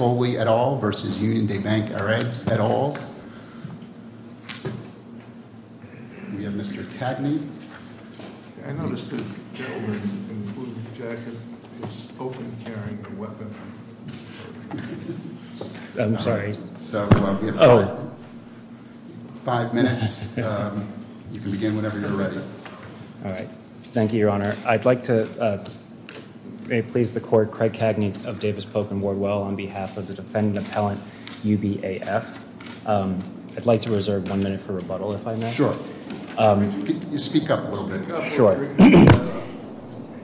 Foley et al. versus Union de Banque et al. We have Mr. Cagney. I noticed that the gentleman in the blue jacket is open carrying a weapon. I'm sorry. So we have five minutes. You can begin whenever you're ready. All right. Thank you, your honor. I'd like to please the court, Craig Cagney of Davis Polk and Wardwell on behalf of the defendant appellant, UBAF. I'd like to reserve one minute for rebuttal, if I may. Sure. Speak up a little bit. Sure.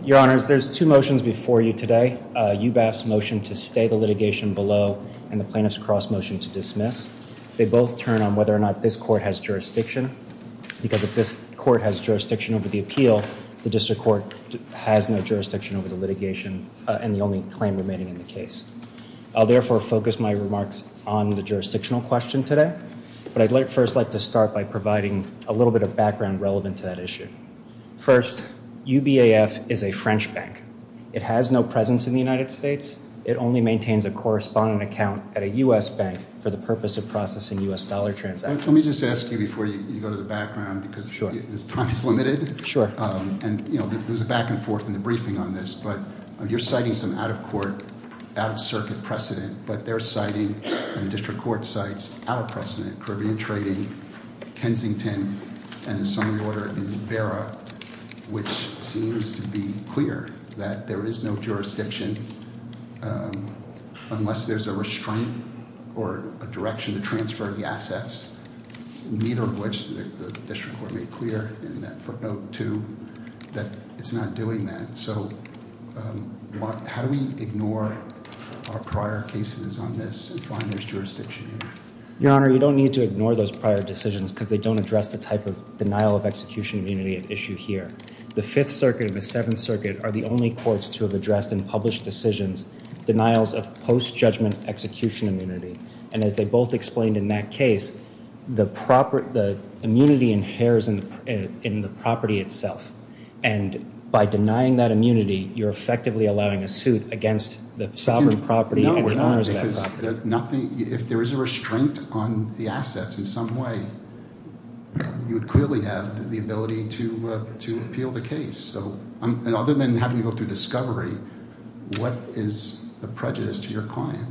Your honors, there's two motions before you today. UBAF's motion to stay the litigation below and the plaintiff's cross motion to dismiss. They both turn on whether or not this court has jurisdiction. Because if this court has jurisdiction over the appeal, the district court has no jurisdiction over the litigation and the only claim remaining in the case. I'll therefore focus my remarks on the jurisdictional question today. But I'd first like to start by providing a little bit of background relevant to that issue. First, UBAF is a French bank. It has no presence in the United States. It only maintains a correspondent account at a U.S. bank for the purpose of processing U.S. dollar transactions. Let me just ask you before you go to the background because time is limited. And there's a back and forth in the briefing on this. But you're citing some out of court, out of circuit precedent. But they're citing, and the district court cites, out of precedent Caribbean trading, Kensington, and the summary order in Vera, which seems to be clear that there is no jurisdiction unless there's a restraint or a direction to transfer the assets, neither of which the district court made clear in that footnote too, that it's not doing that. So how do we ignore our prior cases on this and find there's jurisdiction here? Your Honor, you don't need to ignore those prior decisions because they don't address the type of denial of execution immunity at issue here. The Fifth Circuit and the Seventh Circuit are the only courts to have addressed and published decisions, denials of post-judgment execution immunity. And as they both explained in that case, the immunity inheres in the property itself. And by denying that immunity, you're effectively allowing a suit against the sovereign property and the owners of that property. Nothing, if there is a restraint on the assets in some way, you'd clearly have the ability to appeal the case. And other than having to go through discovery, what is the prejudice to your client?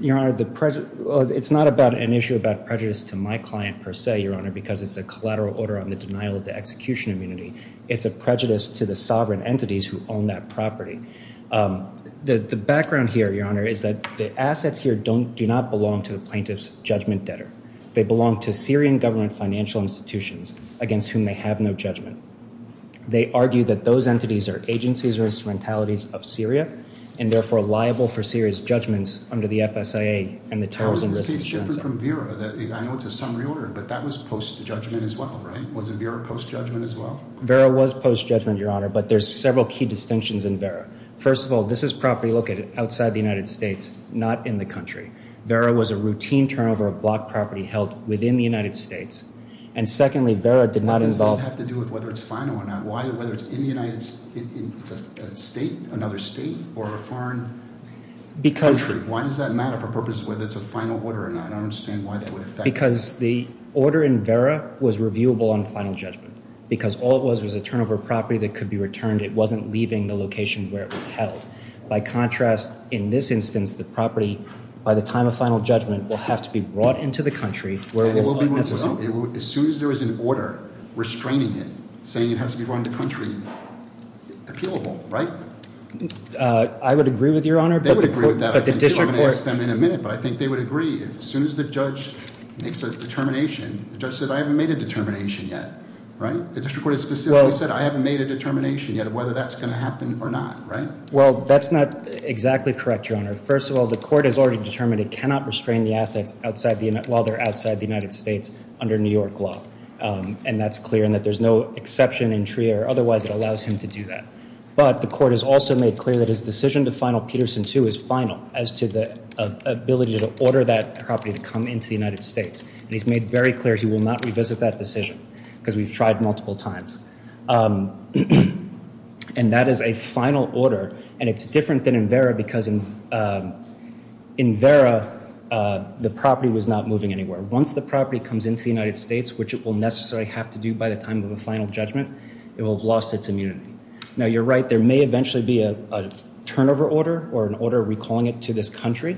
Your Honor, it's not about an issue about prejudice to my client per se, Your Honor, because it's a collateral order on the denial of the execution immunity. It's a prejudice to the sovereign entities who own that property. The background here, Your Honor, is that the assets here do not belong to the plaintiff's judgment debtor. They belong to Syrian government financial institutions against whom they have no judgment. They argue that those entities are agencies or instrumentalities of Syria, and therefore liable for serious judgments under the FSIA and the Tarzan Resolution. How is this case different from Vera? I know it's a summary order, but that was post-judgment as well, right? Was Vera post-judgment as well? Vera was post-judgment, Your Honor, but there's several key distinctions in Vera. First of all, this is property located outside the United States, not in the country. Vera was a routine turnover of block property held within the United States. And secondly, Vera did not involve- What does that have to do with whether it's final or not? Why, whether it's in the United States, another state, or a foreign country? Why does that matter for purposes of whether it's a final order or not? I don't understand why that would affect- Because the order in Vera was reviewable on final judgment, because all it was was a turnover of property that could be returned. It wasn't leaving the location where it was held. By contrast, in this instance, the property, by the time of final judgment, will have to be brought into the country where it will not necessarily- As soon as there is an order restraining it, saying it has to be brought into the country, appealable, right? I would agree with Your Honor, but the court- They would agree with that. But the district court- I'm going to ask them in a minute, but I think they would agree. As soon as the judge makes a determination, the judge said, I haven't made a determination yet, right? The district court has specifically said, I haven't made a determination yet of whether that's going to happen or not, right? Well, that's not exactly correct, Your Honor. First of all, the court has already determined it cannot restrain the assets while they're outside the United States under New York law. And that's clear in that there's no exception in TRIA or otherwise that allows him to do that. But the court has also made clear that his decision to final Peterson 2 is final as to the ability to order that property to come into the United States. And he's made very clear he will not revisit that decision because we've tried multiple times. And that is a final order. And it's different than in Vera because in Vera, the property was not moving anywhere. Once the property comes into the United States, which it will necessarily have to do by the time of a final judgment, it will have lost its immunity. Now, you're right, there may eventually be a turnover order or an order recalling it to this country,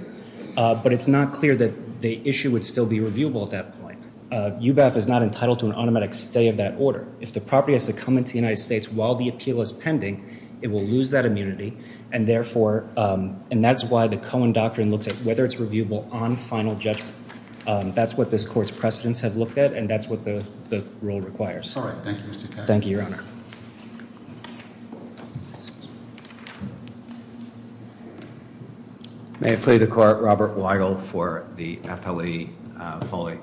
but it's not clear that the issue would still be reviewable at that point. UBAF is not entitled to an automatic stay of that order. If the property has to come into the United States while the appeal is pending, it will lose that immunity and therefore, and that's why the Cohen Doctrine looks at whether it's reviewable on final judgment. That's what this court's precedents have looked at and that's what the rule requires. Sorry. Thank you, Mr. Cashman. Thank you, Your Honor. May I plead the court, Robert Weigel for the appellee, Foley?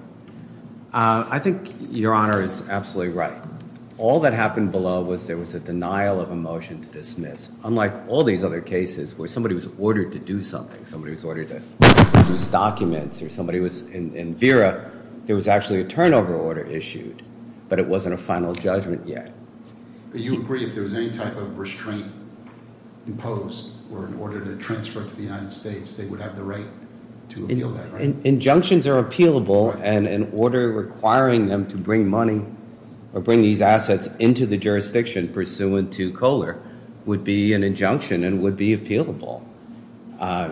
I think Your Honor is absolutely right. All that happened below was there was a denial of a motion to dismiss. Unlike all these other cases where somebody was ordered to do something, somebody was ordered to produce documents or somebody was in Vera, there was actually a turnover order issued, but it wasn't a final judgment yet. Do you agree if there was any type of restraint imposed or in order to transfer to the United States, they would have the right to appeal that, right? Injunctions are appealable and an order requiring them to bring money or bring these assets into the jurisdiction pursuant to Kohler would be an injunction and would be appealable.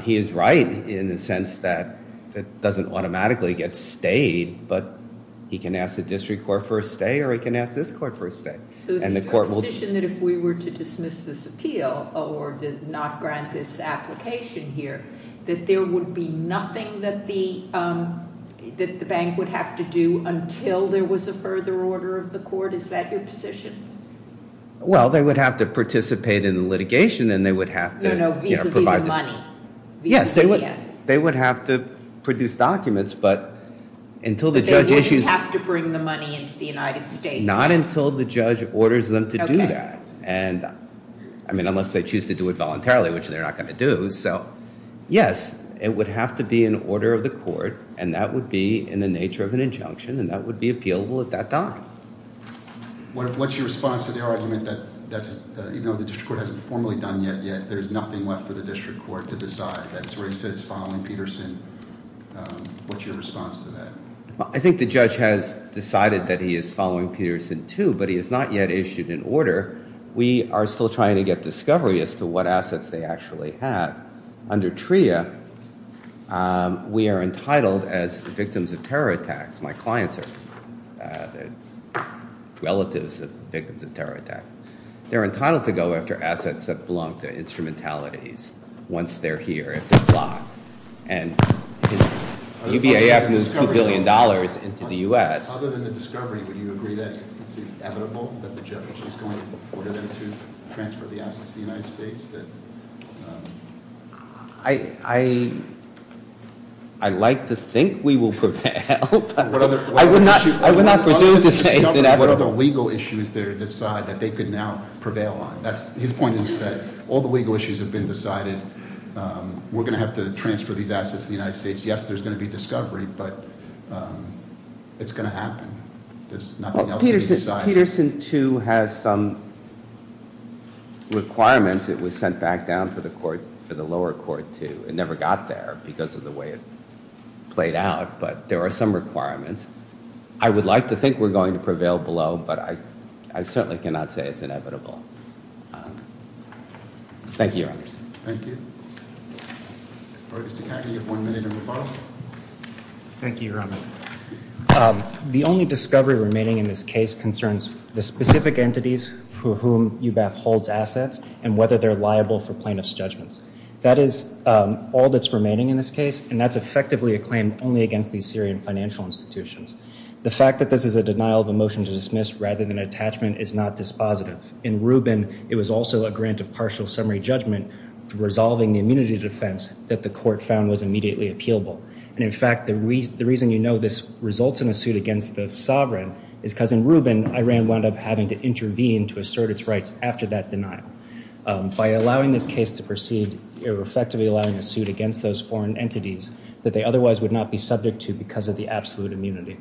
He is right in the sense that it doesn't automatically get stayed, but he can ask the district court for a stay or he can ask this court for a stay. So is it your position that if we were to dismiss this appeal or to not grant this application here that there would be nothing that the bank would have to do until there was a further order of the court? Is that your position? Well, they would have to participate in the litigation and they would have to, you know, Yes, they would have to produce documents, but until the judge issues They wouldn't have to bring the money into the United States. Not until the judge orders them to do that. And I mean, unless they choose to do it voluntarily, which they're not going to do. So, yes, it would have to be an order of the court and that would be in the nature of an injunction and that would be appealable at that time. What's your response to the argument that even though the district court hasn't formally done yet, there's nothing left for the district court to decide? That's where he sits, following Peterson. What's your response to that? I think the judge has decided that he is following Peterson, too, but he has not yet issued an order. We are still trying to get discovery as to what assets they actually have. Under TRIA, we are entitled as victims of terror attacks. My clients are relatives of victims of terror attacks. They're entitled to go after assets that belong to instrumentalities once they're here, if they're blocked. And UBIF moves $2 billion into the US. Other than the discovery, would you agree that it's inevitable that the judge is going to order them to transfer the assets to the United States? I'd like to think we will prevail, but I would not presume to say it's inevitable. What are the legal issues that are decided that they could now prevail on? His point is that all the legal issues have been decided, we're going to have to transfer these assets to the United States. Yes, there's going to be discovery, but it's going to happen. There's nothing else to be decided. Peterson, too, has some requirements. It was sent back down for the lower court, too. It never got there because of the way it played out, but there are some requirements. I would like to think we're going to prevail below, but I certainly cannot say it's inevitable. Thank you, Your Honors. Thank you. All right, Mr. Cagney, you have one minute in rebuttal. Thank you, Your Honor. The only discovery remaining in this case concerns the specific entities for whom UBIF holds assets and whether they're liable for plaintiff's judgments. That is all that's remaining in this case, and that's effectively a claim only against these Syrian financial institutions. The fact that this is a denial of a motion to dismiss rather than an attachment is not dispositive. In Rubin, it was also a grant of partial summary judgment for resolving the immunity defense that the court found was immediately appealable. And in fact, the reason you know this results in a suit against the sovereign is because in Rubin, Iran wound up having to intervene to assert its rights after that denial. By allowing this case to proceed, you're effectively allowing a suit against those foreign entities that they otherwise would not be subject to because of the absolute immunity.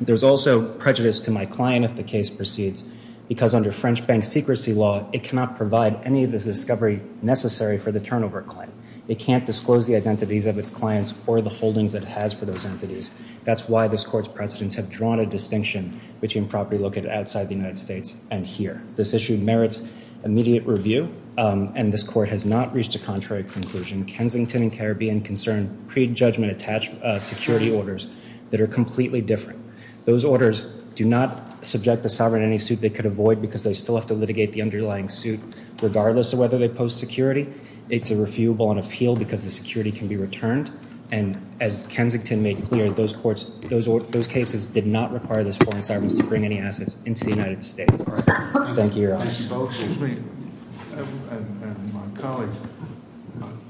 There's also prejudice to my client if the case proceeds because under French bank secrecy law, it cannot provide any of this discovery necessary for the turnover claim. It can't disclose the identities of its clients or the holdings it has for those entities. That's why this court's precedents have drawn a distinction between property located outside the United States and here. This issue merits immediate review and this court has not reached a contrary conclusion. Kensington and Caribbean concern prejudgment attached security orders that are completely different. Those orders do not subject the sovereign in any suit they could avoid because they still have to litigate the underlying suit. Regardless of whether they post security, it's a refutable on appeal because the security can be returned. And as Kensington made clear, those cases did not require those foreign servants to bring any assets into the United States. Thank you, your honor. Excuse me, and my colleague,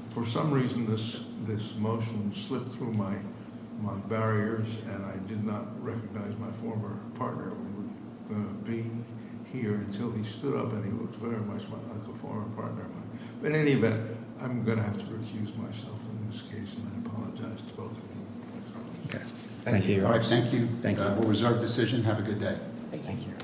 for some reason this motion slipped through my barriers. And I did not recognize my former partner who would be here until he stood up and he looks very much like a former partner of mine. But in any event, I'm going to have to recuse myself in this case and I apologize to both of you and my colleague. Okay. Thank you, your honor. Thank you. Thank you. We'll reserve decision. Have a good day. Thank you.